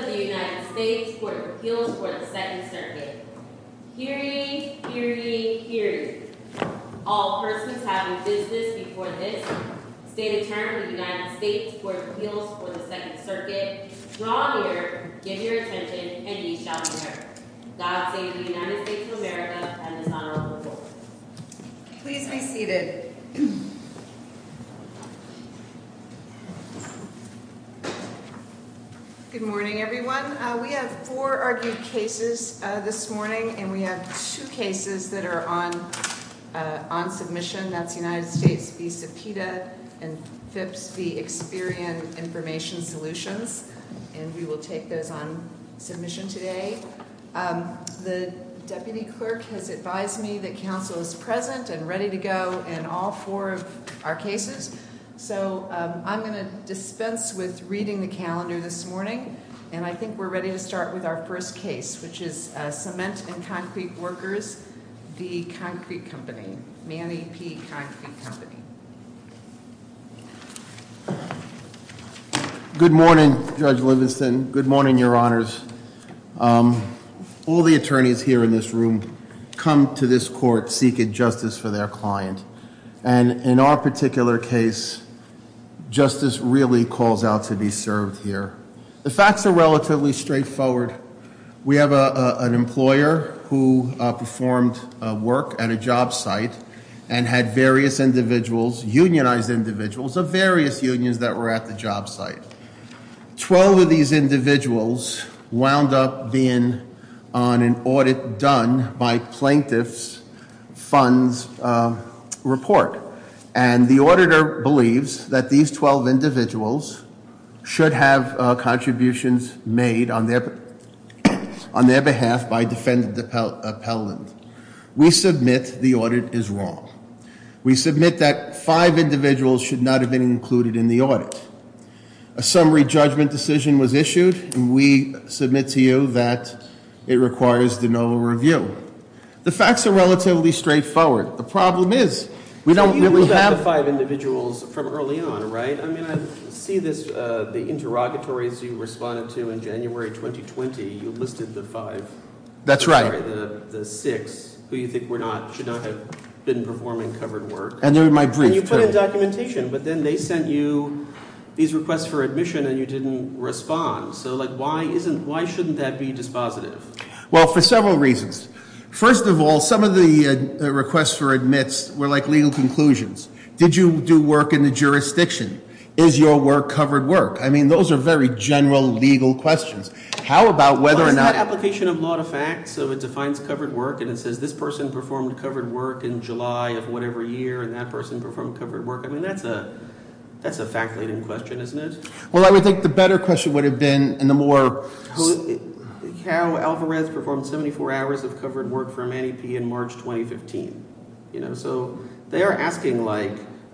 Welfa v. Manny P. Concrete Co., Inc. Welfa v. Manny P. Concrete Co., Inc. Judges of the United States Court of Appeals for the Second Circuit. Hear ye, hear ye, hear ye. All persons having business before this, stay to turn to the United States Court of Appeals for the Second Circuit. Draw near, give your attention, and ye shall hear. God save the United States of America and this honorable court. Please be seated. Good morning, everyone. We have four argued cases this morning, and we have two cases that are on submission. That's United States v. Cepeda and Phipps v. Experian Information Solutions, and we will take those on submission today. The deputy clerk has advised me that counsel is present and ready to go in all four of our cases. So I'm going to dispense with reading the calendar this morning, and I think we're ready to start with our first case, which is Cement and Concrete Workers v. Concrete Company, Manny P. Concrete Company. Good morning, Judge Livingston. Good morning, your honors. All the attorneys here in this room come to this court seeking justice for their client. And in our particular case, justice really calls out to be served here. The facts are relatively straightforward. We have an employer who performed work at a job site and had various individuals, unionized individuals of various unions that were at the job site. 12 of these individuals wound up being on an audit done by plaintiff's funds report. And the auditor believes that these 12 individuals should have contributions made on their behalf by defendant appellant. We submit the audit is wrong. We submit that five individuals should not have been included in the audit. A summary judgment decision was issued, and we submit to you that it requires the no review. The facts are relatively straightforward. The problem is, we don't- You have five individuals from early on, right? I mean, I see this, the interrogatories you responded to in January 2020, you listed the five. That's right. The six who you think should not have been performing covered work. And they were my brief, too. And you put in documentation, but then they sent you these requests for admission and you didn't respond. So why shouldn't that be dispositive? Well, for several reasons. First of all, some of the requests for admits were like legal conclusions. Did you do work in the jurisdiction? Is your work covered work? I mean, those are very general legal questions. How about whether or not- Well, it's not application of law to fact, so it defines covered work. And it says this person performed covered work in July of whatever year, and that person performed covered work. I mean, that's a fact-laden question, isn't it? Well, I would think the better question would have been, and the more- How Alvarez performed 74 hours of covered work for Manny P. in March 2015. So they are asking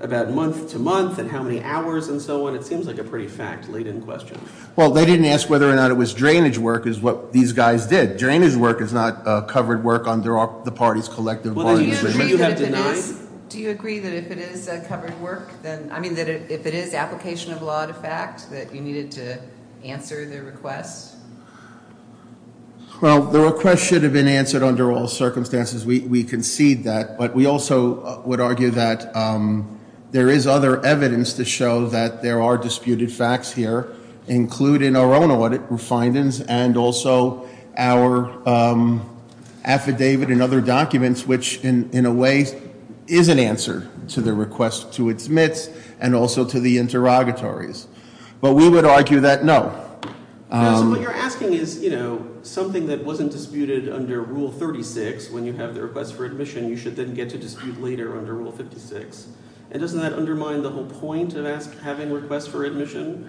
about month to month, and how many hours, and so on. It seems like a pretty fact-laden question. Well, they didn't ask whether or not it was drainage work, is what these guys did. Drainage work is not covered work under the party's collective bargaining agreement. Well, do you agree that if it is- Do you agree that if it is covered work, then, I mean, that if it is application of law to fact, that you needed to answer their request? Well, the request should have been answered under all circumstances. We concede that. But we also would argue that there is other evidence to show that there are disputed facts here, including our own audit findings and also our affidavit and other documents, which in a way is an answer to the request to its mits and also to the interrogatories. But we would argue that no. So what you're asking is, something that wasn't disputed under Rule 36 when you have the request for admission, you should then get to dispute later under Rule 56. And doesn't that undermine the whole point of having requests for admission?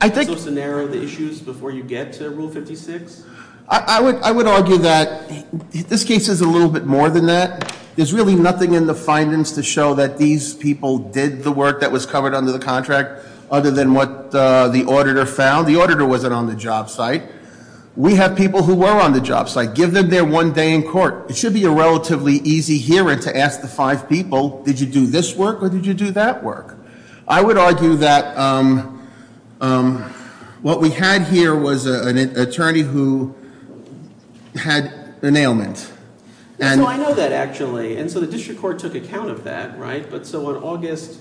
I think- So it's a narrow the issues before you get to Rule 56? I would argue that this case is a little bit more than that. There's really nothing in the findings to show that these people did the work that was covered under the contract, other than what the auditor found. The auditor wasn't on the job site. We have people who were on the job site. Give them their one day in court. It should be a relatively easy hearing to ask the five people, did you do this work or did you do that work? I would argue that what we had here was an attorney who had an ailment. And- No, I know that actually. And so the district court took account of that, right? But so on August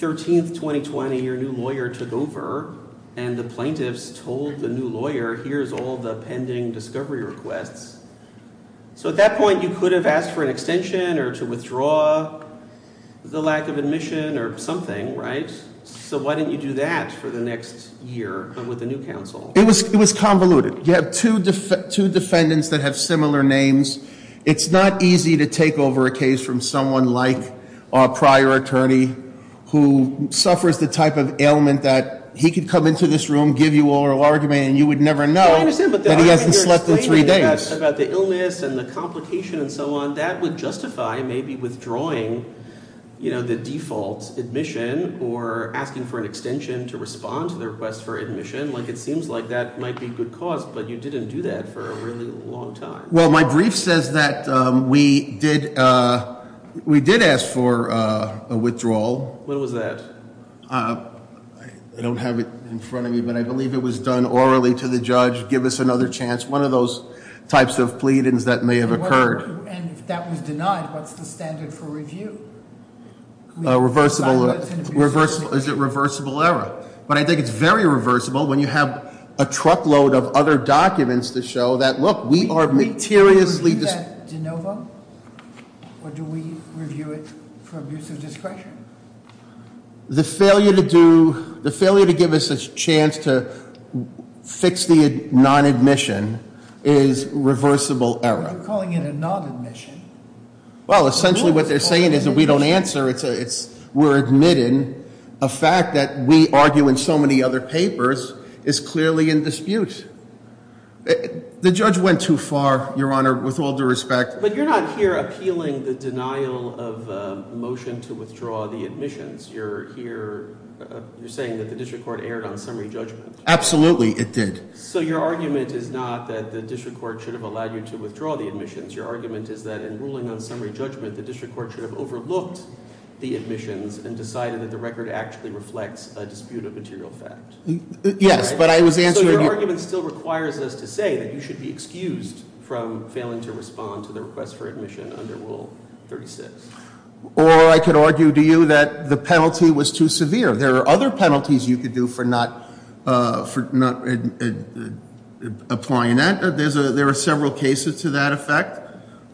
13th, 2020, your new lawyer took over. And the plaintiffs told the new lawyer, here's all the pending discovery requests. So at that point, you could have asked for an extension or to withdraw the lack of admission or something, right? So why didn't you do that for the next year with the new counsel? It was convoluted. You have two defendants that have similar names. It's not easy to take over a case from someone like a prior attorney who suffers the type of ailment that he could come into this room, give you oral argument, and you would never know that he hasn't slept in three days. About the illness and the complication and so on. That would justify maybe withdrawing the default admission or asking for an extension to respond to the request for admission. It seems like that might be good cause, but you didn't do that for a really long time. Well, my brief says that we did ask for a withdrawal. What was that? I don't have it in front of me, but I believe it was done orally to the judge. Give us another chance. One of those types of pleadings that may have occurred. And if that was denied, what's the standard for review? Reversible, is it reversible error? But I think it's very reversible when you have a truckload of other documents to show that, look, we are materiously- Do we review that de novo? Or do we review it for abuse of discretion? The failure to do, the failure to give us a chance to fix the non-admission is reversible error. What are you calling it a non-admission? Well, essentially what they're saying is that we don't answer. We're admitting a fact that we argue in so many other papers is clearly in dispute. The judge went too far, Your Honor, with all due respect. But you're not here appealing the denial of a motion to withdraw the admissions. You're here, you're saying that the district court erred on summary judgment. Absolutely, it did. So your argument is not that the district court should have allowed you to withdraw the admissions. Your argument is that in ruling on summary judgment, the district court should have overlooked the admissions and decided that the record actually reflects a dispute of material fact. Yes, but I was answering- So your argument still requires us to say that you should be excused from failing to respond to the request for admission under Rule 36. Or I could argue to you that the penalty was too severe. There are other penalties you could do for not applying that. There are several cases to that effect.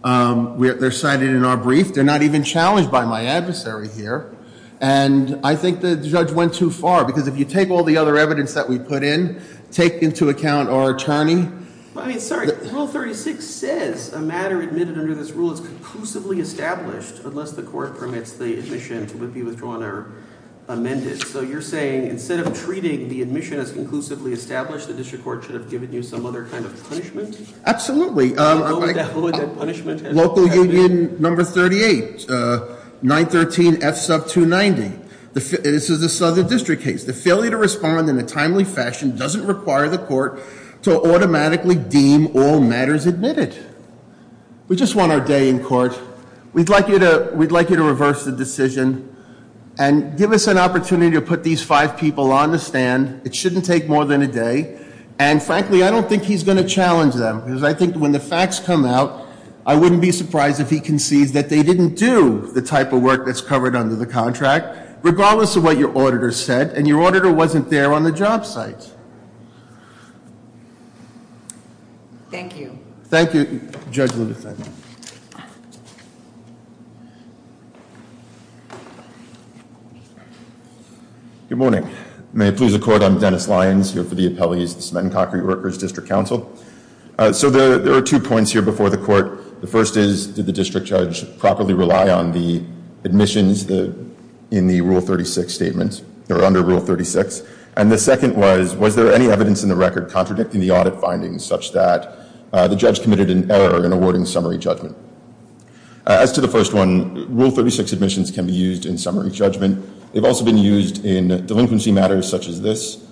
They're cited in our brief. They're not even challenged by my adversary here. And I think the judge went too far. Because if you take all the other evidence that we put in, take into account our attorney. I mean, sorry, Rule 36 says a matter admitted under this rule is conclusively established unless the court permits the admission to be withdrawn or amended. So you're saying instead of treating the admission as conclusively established, the district court should have given you some other kind of punishment? Absolutely, local union number 38, 913 F sub 290, this is a southern district case. The failure to respond in a timely fashion doesn't require the court to automatically deem all matters admitted. We just want our day in court. We'd like you to reverse the decision and give us an opportunity to put these five people on the stand. It shouldn't take more than a day. And frankly, I don't think he's going to challenge them, because I think when the facts come out, I wouldn't be surprised if he concedes that they didn't do the type of work that's covered under the contract. Regardless of what your auditor said, and your auditor wasn't there on the job site. Thank you. Thank you, Judge Lindefend. Good morning. May it please the court, I'm Dennis Lyons, here for the appellees, the Cement and Concrete Workers District Council. So there are two points here before the court. The first is, did the district judge properly rely on the admissions in the Rule 36 statements, or under Rule 36? And the second was, was there any evidence in the record contradicting the audit findings, such that the judge committed an error in awarding summary judgment? As to the first one, Rule 36 admissions can be used in summary judgment. They've also been used in delinquency matters such as this,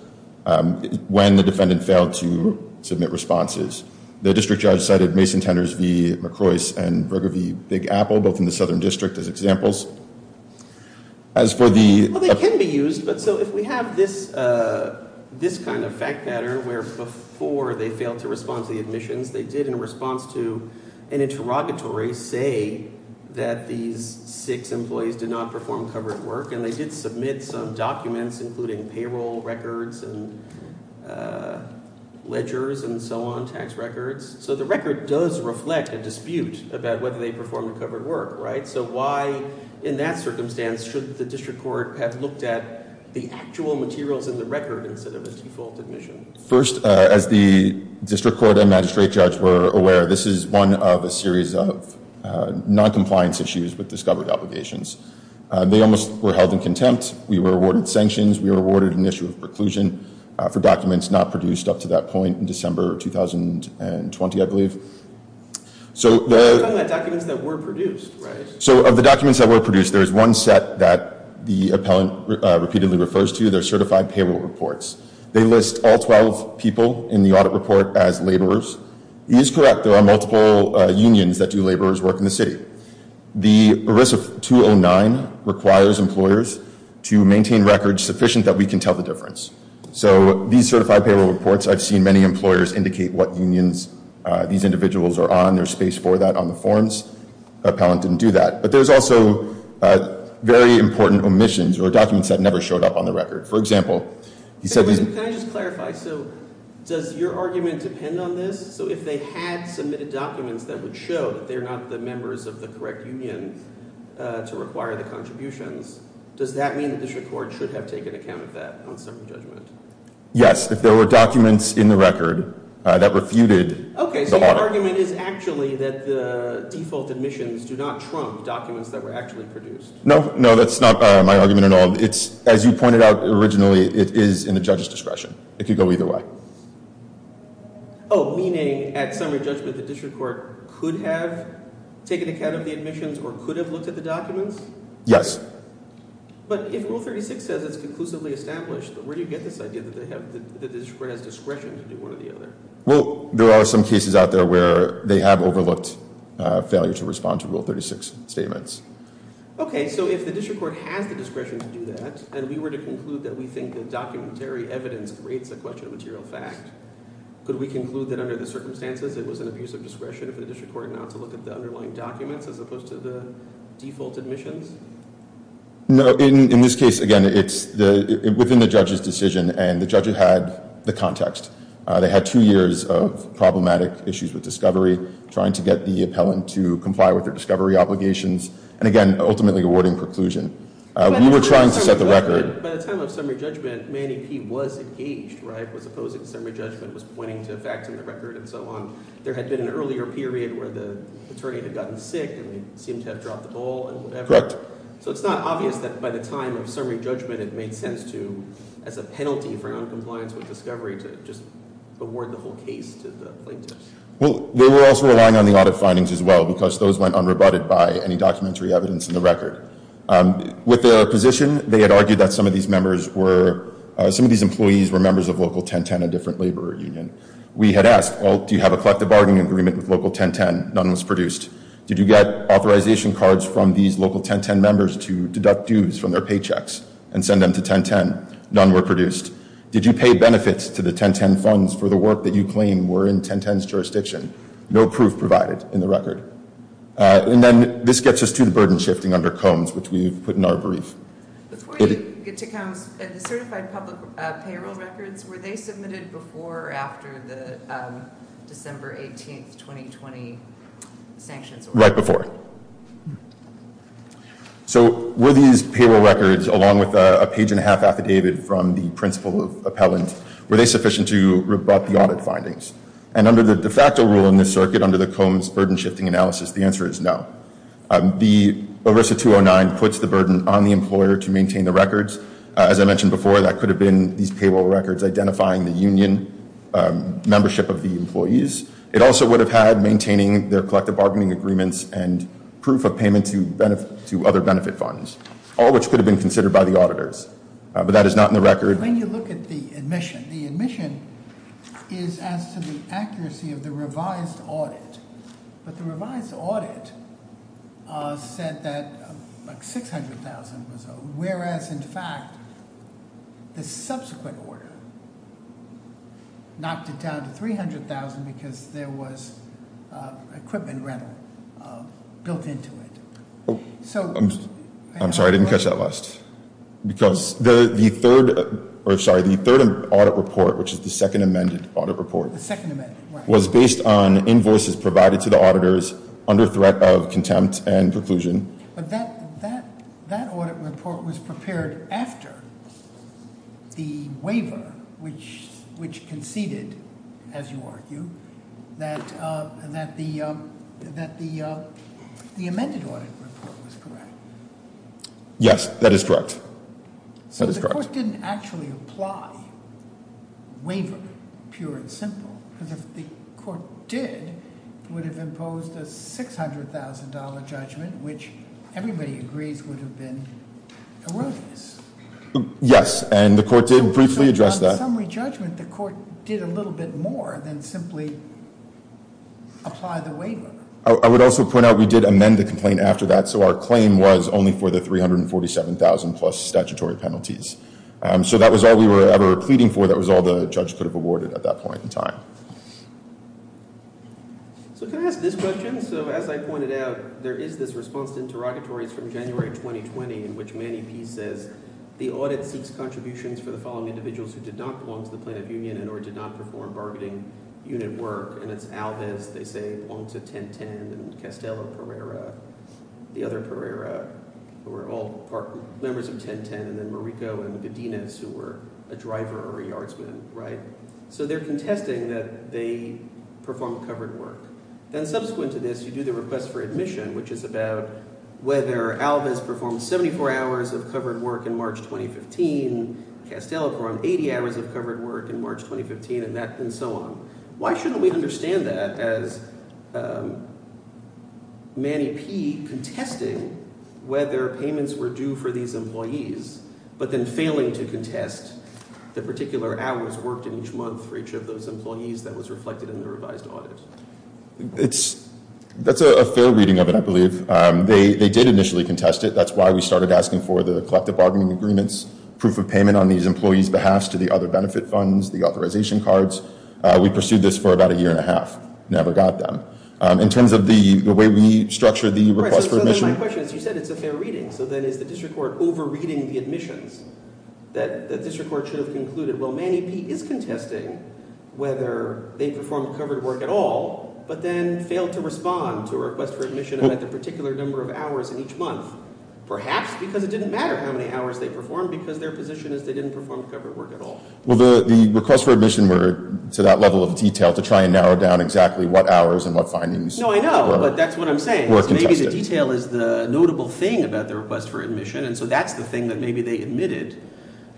when the defendant failed to submit responses. The district judge cited Mason Tenors v. McCroice and Berger v. Big Apple, both in the southern district, as examples. As for the- Well, they can be used, but so if we have this kind of fact matter, where before they failed to respond to the admissions, they did in response to an interrogatory say that these six employees did not perform covered work, and they did submit some documents, including payroll records and ledgers and so on, tax records. So the record does reflect a dispute about whether they performed the covered work, right? So why, in that circumstance, should the district court have looked at the actual materials in the record instead of a default admission? First, as the district court and magistrate judge were aware, this is one of a series of non-compliance issues with discovered obligations. They almost were held in contempt. We were awarded sanctions. We were awarded an issue of preclusion for documents not produced up to that point in December of 2020, I believe. So the- We're talking about documents that were produced, right? So of the documents that were produced, there is one set that the appellant repeatedly refers to. They're certified payroll reports. They list all 12 people in the audit report as laborers. He is correct, there are multiple unions that do laborers work in the city. The ERISA 209 requires employers to maintain records sufficient that we can tell the difference. So these certified payroll reports, I've seen many employers indicate what unions these individuals are on. There's space for that on the forms. Appellant didn't do that. But there's also very important omissions or documents that never showed up on the record. For example, he said- Can I just clarify, so does your argument depend on this? So if they had submitted documents that would show that they're not the members of the correct union to require the contributions, does that mean that the district court should have taken account of that on some judgment? Yes, if there were documents in the record that refuted the audit. Okay, so your argument is actually that the default omissions do not trump documents that were actually produced. No, no, that's not my argument at all. It's, as you pointed out originally, it is in the judge's discretion. It could go either way. Meaning, at summary judgment, the district court could have taken account of the omissions or could have looked at the documents? Yes. But if Rule 36 says it's conclusively established, where do you get this idea that the district court has discretion to do one or the other? Well, there are some cases out there where they have overlooked failure to respond to Rule 36 statements. Okay, so if the district court has the discretion to do that, and we were to conclude that we think the documentary evidence creates a question of material fact, could we conclude that under the circumstances it was an abuse of discretion for the district court not to look at the underlying documents as opposed to the default omissions? No, in this case, again, it's within the judge's decision, and the judge had the context. They had two years of problematic issues with discovery, trying to get the appellant to comply with their discovery obligations, and, again, ultimately awarding preclusion. We were trying to set the record. By the time of summary judgment, Manny P. was engaged, right, was opposing summary judgment, was pointing to facts in the record and so on. There had been an earlier period where the attorney had gotten sick and they seemed to have dropped the ball and whatever. So it's not obvious that by the time of summary judgment it made sense to, as a penalty for noncompliance with discovery, to just award the whole case to the plaintiff. Well, they were also relying on the audit findings as well, because those went unrebutted by any documentary evidence in the record. With their position, they had argued that some of these employees were members of Local 1010, a different labor union. We had asked, well, do you have a collective bargaining agreement with Local 1010? None was produced. Did you get authorization cards from these Local 1010 members to deduct dues from their paychecks and send them to 1010? None were produced. Did you pay benefits to the 1010 funds for the work that you claim were in 1010's jurisdiction? No proof provided in the record. And then this gets us to the burden shifting under Combs, which we've put in our brief. Before you get to Combs, the certified public payroll records, were they submitted before or after the December 18th, 2020 sanctions? Right before. So were these payroll records, along with a page and a half affidavit from the principal appellant, were they sufficient to rebut the audit findings? And under the de facto rule in this circuit, under the Combs burden shifting analysis, the answer is no. The ERISA 209 puts the burden on the employer to maintain the records. As I mentioned before, that could have been these payroll records identifying the union membership of the employees. It also would have had maintaining their collective bargaining agreements and proof of payment to other benefit funds. All which could have been considered by the auditors. But that is not in the record. When you look at the admission, the admission is as to the accuracy of the revised audit. But the revised audit said that 600,000 was owed. Whereas, in fact, the subsequent order knocked it down to 300,000 because there was equipment rental built into it. I'm sorry, I didn't catch that last. Because the third audit report, which is the second amended audit report. The second amended, right. Was based on invoices provided to the auditors under threat of contempt and preclusion. But that audit report was prepared after the waiver, which conceded, as you argue, that the amended audit report was correct. Yes, that is correct. So the court didn't actually apply waiver, pure and simple. Because if the court did, it would have imposed a $600,000 judgment, which everybody agrees would have been erroneous. Yes, and the court did briefly address that. So on the summary judgment, the court did a little bit more than simply apply the waiver. I would also point out we did amend the complaint after that. So our claim was only for the 347,000 plus statutory penalties. So that was all we were ever pleading for. That was all the judge could have awarded at that point in time. So can I ask this question? So as I pointed out, there is this response to interrogatories from January 2020, in which Manny Pease says the audit seeks contributions for the following individuals who did not belong to the plaintiff union and or did not perform bargaining unit work. And it's Alvis, they say, belong to 1010, and Castello-Pereira, the other Pereira, who were all members of 1010, and then Marico and Godinez, who were a driver or a yardsman. So they're contesting that they performed covered work. Then subsequent to this, you do the request for admission, which is about whether Alvis performed 74 hours of covered work in March 2015, Castello performed 80 hours of covered work in March 2015, and so on. Why shouldn't we understand that as Manny Pease contesting whether payments were due for these employees, but then failing to contest the particular hours worked in each month for each of those employees that was reflected in the revised audit? That's a fair reading of it, I believe. They did initially contest it. That's why we started asking for the collective bargaining agreements, proof of payment on these employees' behalf to the other benefit funds, the authorization cards. We pursued this for about a year and a half, never got them. In terms of the way we structured the request for admission— Right, so then my question is, you said it's a fair reading. So then is the district court over-reading the admissions that the district court should have concluded, well, Manny Pease is contesting whether they performed covered work at all, but then failed to respond to a request for admission about the particular number of hours in each month, perhaps because it didn't matter how many hours they performed because their position is they didn't perform covered work at all. Well, the requests for admission were to that level of detail to try and narrow down exactly what hours and what findings were contested. No, I know, but that's what I'm saying is maybe the detail is the notable thing about the request for admission, and so that's the thing that maybe they admitted,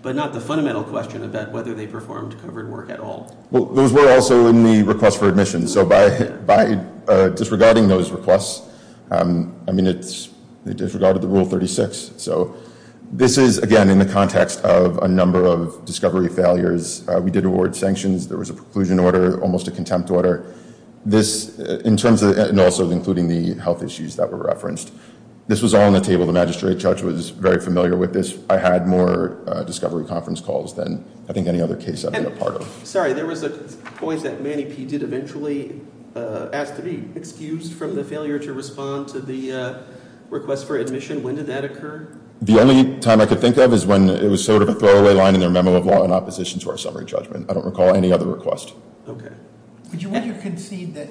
but not the fundamental question about whether they performed covered work at all. Well, those were also in the request for admission. So by disregarding those requests, I mean, they disregarded the Rule 36. So this is, again, in the context of a number of discovery failures. We did award sanctions. There was a preclusion order, almost a contempt order. This, in terms of, and also including the health issues that were referenced, this was all on the table. The magistrate judge was very familiar with this. I had more discovery conference calls than I think any other case I've been a part of. Sorry, there was a point that Manny P. did eventually ask to be excused from the failure to respond to the request for admission. When did that occur? The only time I could think of is when it was sort of a throwaway line in their memo of law in opposition to our summary judgment. I don't recall any other request. Okay. Would you want to concede that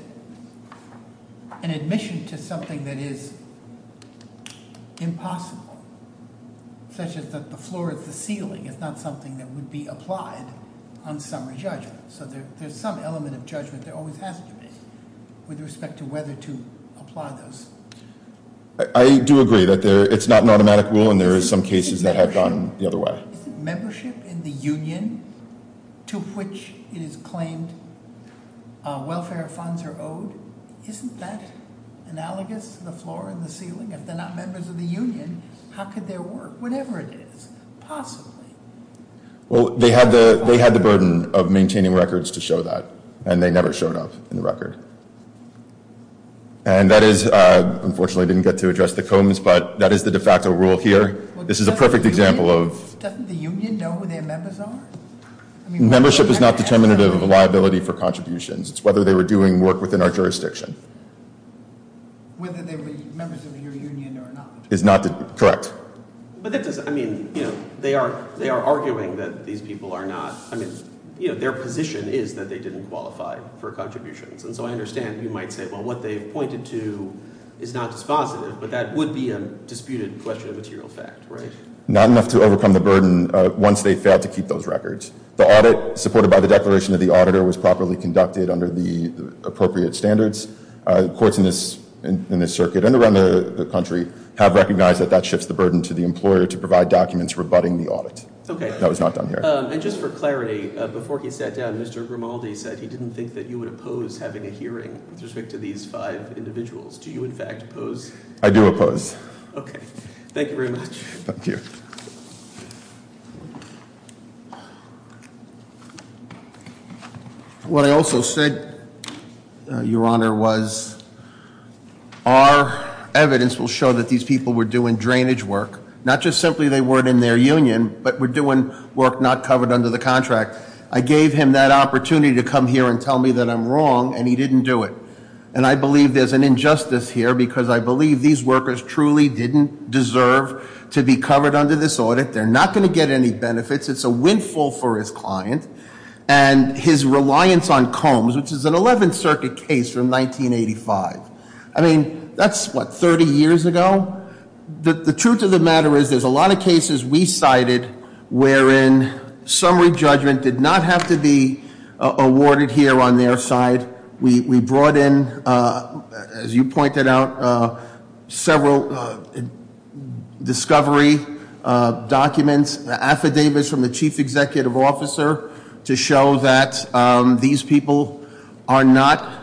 an admission to something that is impossible, such as that the floor is the ceiling, is not something that would be applied on summary judgment. So there's some element of judgment that always has to be with respect to whether to apply those. I do agree that it's not an automatic rule, and there are some cases that have gone the other way. Is it membership in the union to which it is claimed welfare funds are owed? Isn't that analogous to the floor and the ceiling? If they're not members of the union, how could there work? Whatever it is, possibly. Well, they had the burden of maintaining records to show that, and they never showed up in the record. And that is, unfortunately, I didn't get to address the Combs, but that is the de facto rule here. This is a perfect example of- Doesn't the union know who their members are? Membership is not determinative of liability for contributions. It's whether they were doing work within our jurisdiction. Whether they were members of your union or not. Correct. But that doesn't, I mean, they are arguing that these people are not, I mean, their position is that they didn't qualify for contributions. And so I understand you might say, well, what they've pointed to is not dispositive, but that would be a disputed question of material fact, right? Not enough to overcome the burden once they fail to keep those records. The audit, supported by the declaration of the auditor, was properly conducted under the appropriate standards. Courts in this circuit and around the country have recognized that that shifts the burden to the employer to provide documents rebutting the audit. That was not done here. And just for clarity, before he sat down, Mr. Grimaldi said he didn't think that you would oppose having a hearing with respect to these five individuals. Do you, in fact, oppose? I do oppose. Okay. Thank you very much. Thank you. What I also said, Your Honor, was our evidence will show that these people were doing drainage work. Not just simply they weren't in their union, but were doing work not covered under the contract. I gave him that opportunity to come here and tell me that I'm wrong, and he didn't do it. And I believe there's an injustice here because I believe these workers truly didn't deserve to be covered under this audit. They're not going to get any benefits. It's a windfall for his client. And his reliance on Combs, which is an 11th Circuit case from 1985. I mean, that's, what, 30 years ago? The truth of the matter is there's a lot of cases we cited wherein summary judgment did not have to be awarded here on their side. We brought in, as you pointed out, several discovery documents, affidavits from the chief executive officer to show that these people are not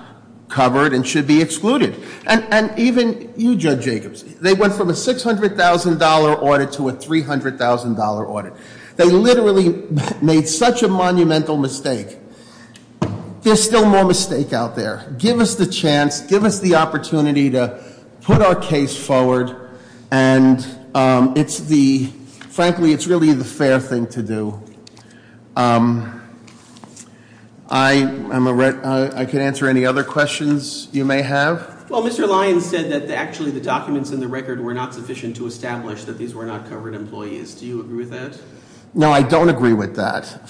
covered and should be excluded. And even you, Judge Jacobs, they went from a $600,000 audit to a $300,000 audit. They literally made such a monumental mistake. There's still more mistake out there. Give us the chance. Give us the opportunity to put our case forward. And frankly, it's really the fair thing to do. I can answer any other questions you may have. Well, Mr. Lyons said that actually the documents in the record were not sufficient to establish that these were not covered employees. Do you agree with that? No, I don't agree with that.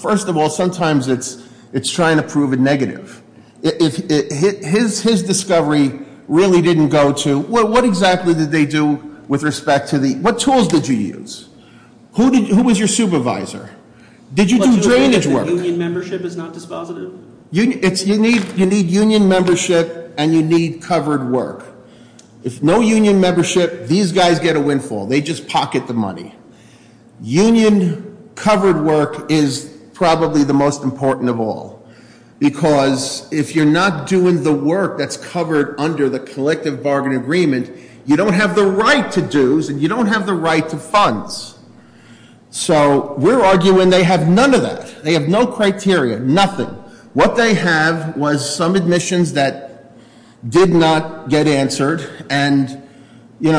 First of all, sometimes it's trying to prove a negative. His discovery really didn't go to, what exactly did they do with respect to the, what tools did you use? Who was your supervisor? Did you do drainage work? Union membership is not dispositive? You need union membership and you need covered work. If no union membership, these guys get a windfall. They just pocket the money. Union covered work is probably the most important of all. Because if you're not doing the work that's covered under the collective bargain agreement, you don't have the right to dues and you don't have the right to funds. So we're arguing they have none of that. They have no criteria, nothing. What they have was some admissions that did not get answered. And in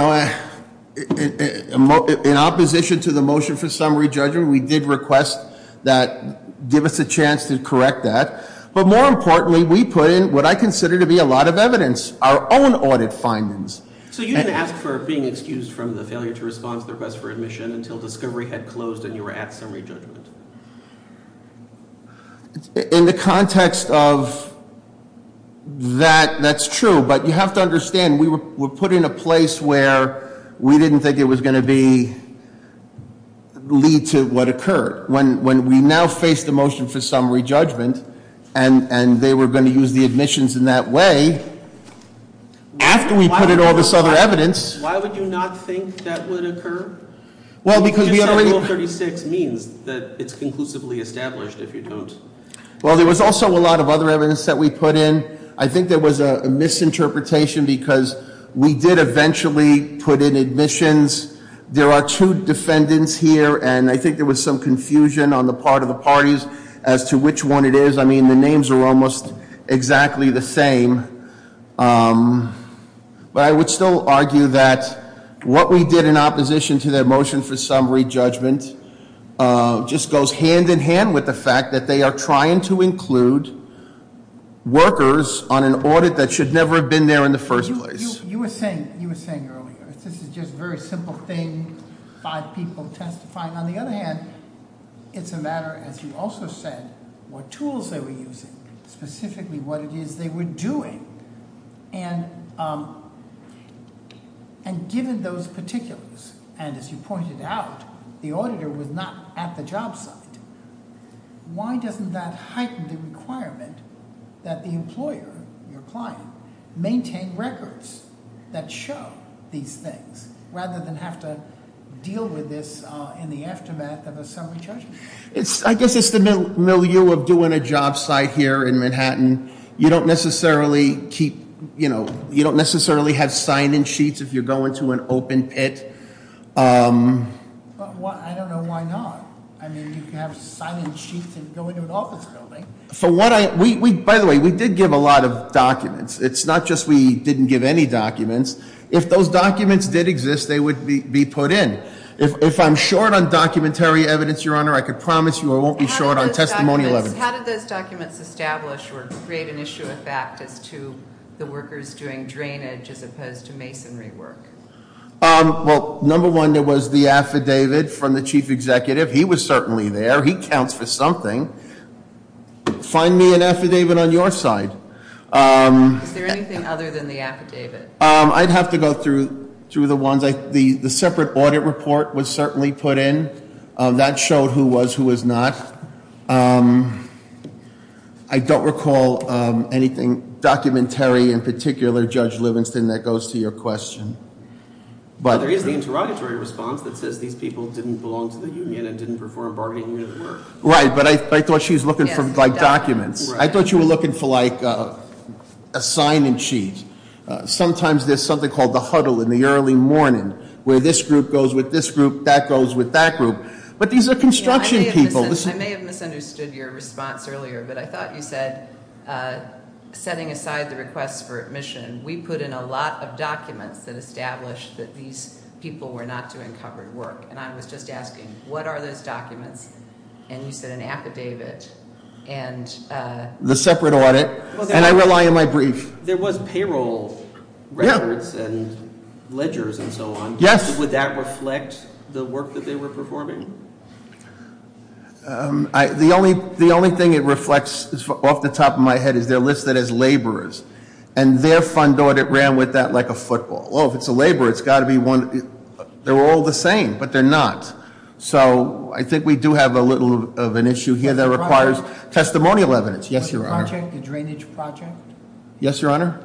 opposition to the motion for summary judgment, we did request that, give us a chance to correct that. But more importantly, we put in what I consider to be a lot of evidence, our own audit findings. So you didn't ask for being excused from the failure to respond to the request for admission until discovery had closed and you were at summary judgment? In the context of that, that's true. But you have to understand, we were put in a place where we didn't think it was going to be, lead to what occurred. When we now face the motion for summary judgment, and they were going to use the admissions in that way. After we put in all this other evidence- Why would you not think that would occur? Well, because we already- You just said rule 36 means that it's conclusively established if you don't. Well, there was also a lot of other evidence that we put in. I think there was a misinterpretation because we did eventually put in admissions. There are two defendants here, and I think there was some confusion on the part of the parties as to which one it is. I mean, the names are almost exactly the same, but I would still argue that what we did in opposition to their motion for summary judgment just goes hand in hand with the fact that they are trying to include workers on an audit that should never have been there in the first place. You were saying earlier, this is just a very simple thing, five people testifying. On the other hand, it's a matter, as you also said, what tools they were using, specifically what it is they were doing. And given those particulars, and as you pointed out, the auditor was not at the job site. Why doesn't that heighten the requirement that the employer, your client, maintain records that show these things, rather than have to deal with this in the aftermath of a summary judgment? I guess it's the milieu of doing a job site here in Manhattan. You don't necessarily have sign-in sheets if you're going to an open pit. I don't know why not. I mean, you can have sign-in sheets and go into an office building. By the way, we did give a lot of documents. It's not just we didn't give any documents. If those documents did exist, they would be put in. If I'm short on documentary evidence, Your Honor, I can promise you I won't be short on testimony- How did those documents establish or create an issue of fact as to the workers doing drainage as opposed to masonry work? Well, number one, there was the affidavit from the chief executive. He was certainly there. He counts for something. Find me an affidavit on your side. Is there anything other than the affidavit? I'd have to go through the ones. The separate audit report was certainly put in. That showed who was, who was not. I don't recall anything documentary in particular, Judge Livingston, that goes to your question. Well, there is the interrogatory response that says these people didn't belong to the union and didn't perform bargaining at work. Right, but I thought she was looking for documents. I thought you were looking for a sign-in sheet. Sometimes there's something called the huddle in the early morning, where this group goes with this group, that goes with that group. But these are construction people. I may have misunderstood your response earlier, but I thought you said, setting aside the request for admission, we put in a lot of documents that established that these people were not doing covered work. And I was just asking, what are those documents? And you said an affidavit and- The separate audit, and I rely on my brief. There was payroll records and ledgers and so on. Yes. Would that reflect the work that they were performing? The only thing it reflects off the top of my head is they're listed as laborers. And their fund audit ran with that like a football. Well, if it's a laborer, it's got to be one. They're all the same, but they're not. So I think we do have a little of an issue here that requires testimonial evidence. Yes, Your Honor. Was the project a drainage project? Yes, Your Honor.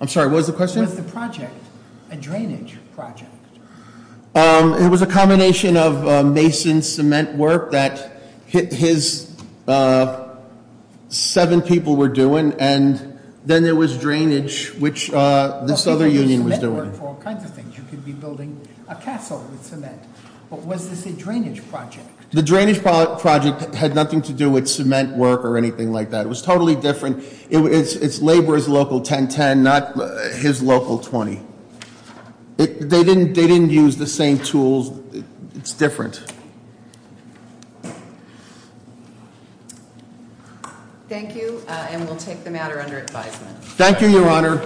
I'm sorry, what was the question? Was the project a drainage project? It was a combination of mason cement work that his seven people were doing. And then there was drainage, which this other union was doing. You could be building a castle with cement. But was this a drainage project? The drainage project had nothing to do with cement work or anything like that. It was totally different. It's laborer's local 1010, not his local 20. They didn't use the same tools. It's different. Thank you. And we'll take the matter under advisement. Thank you, Your Honor.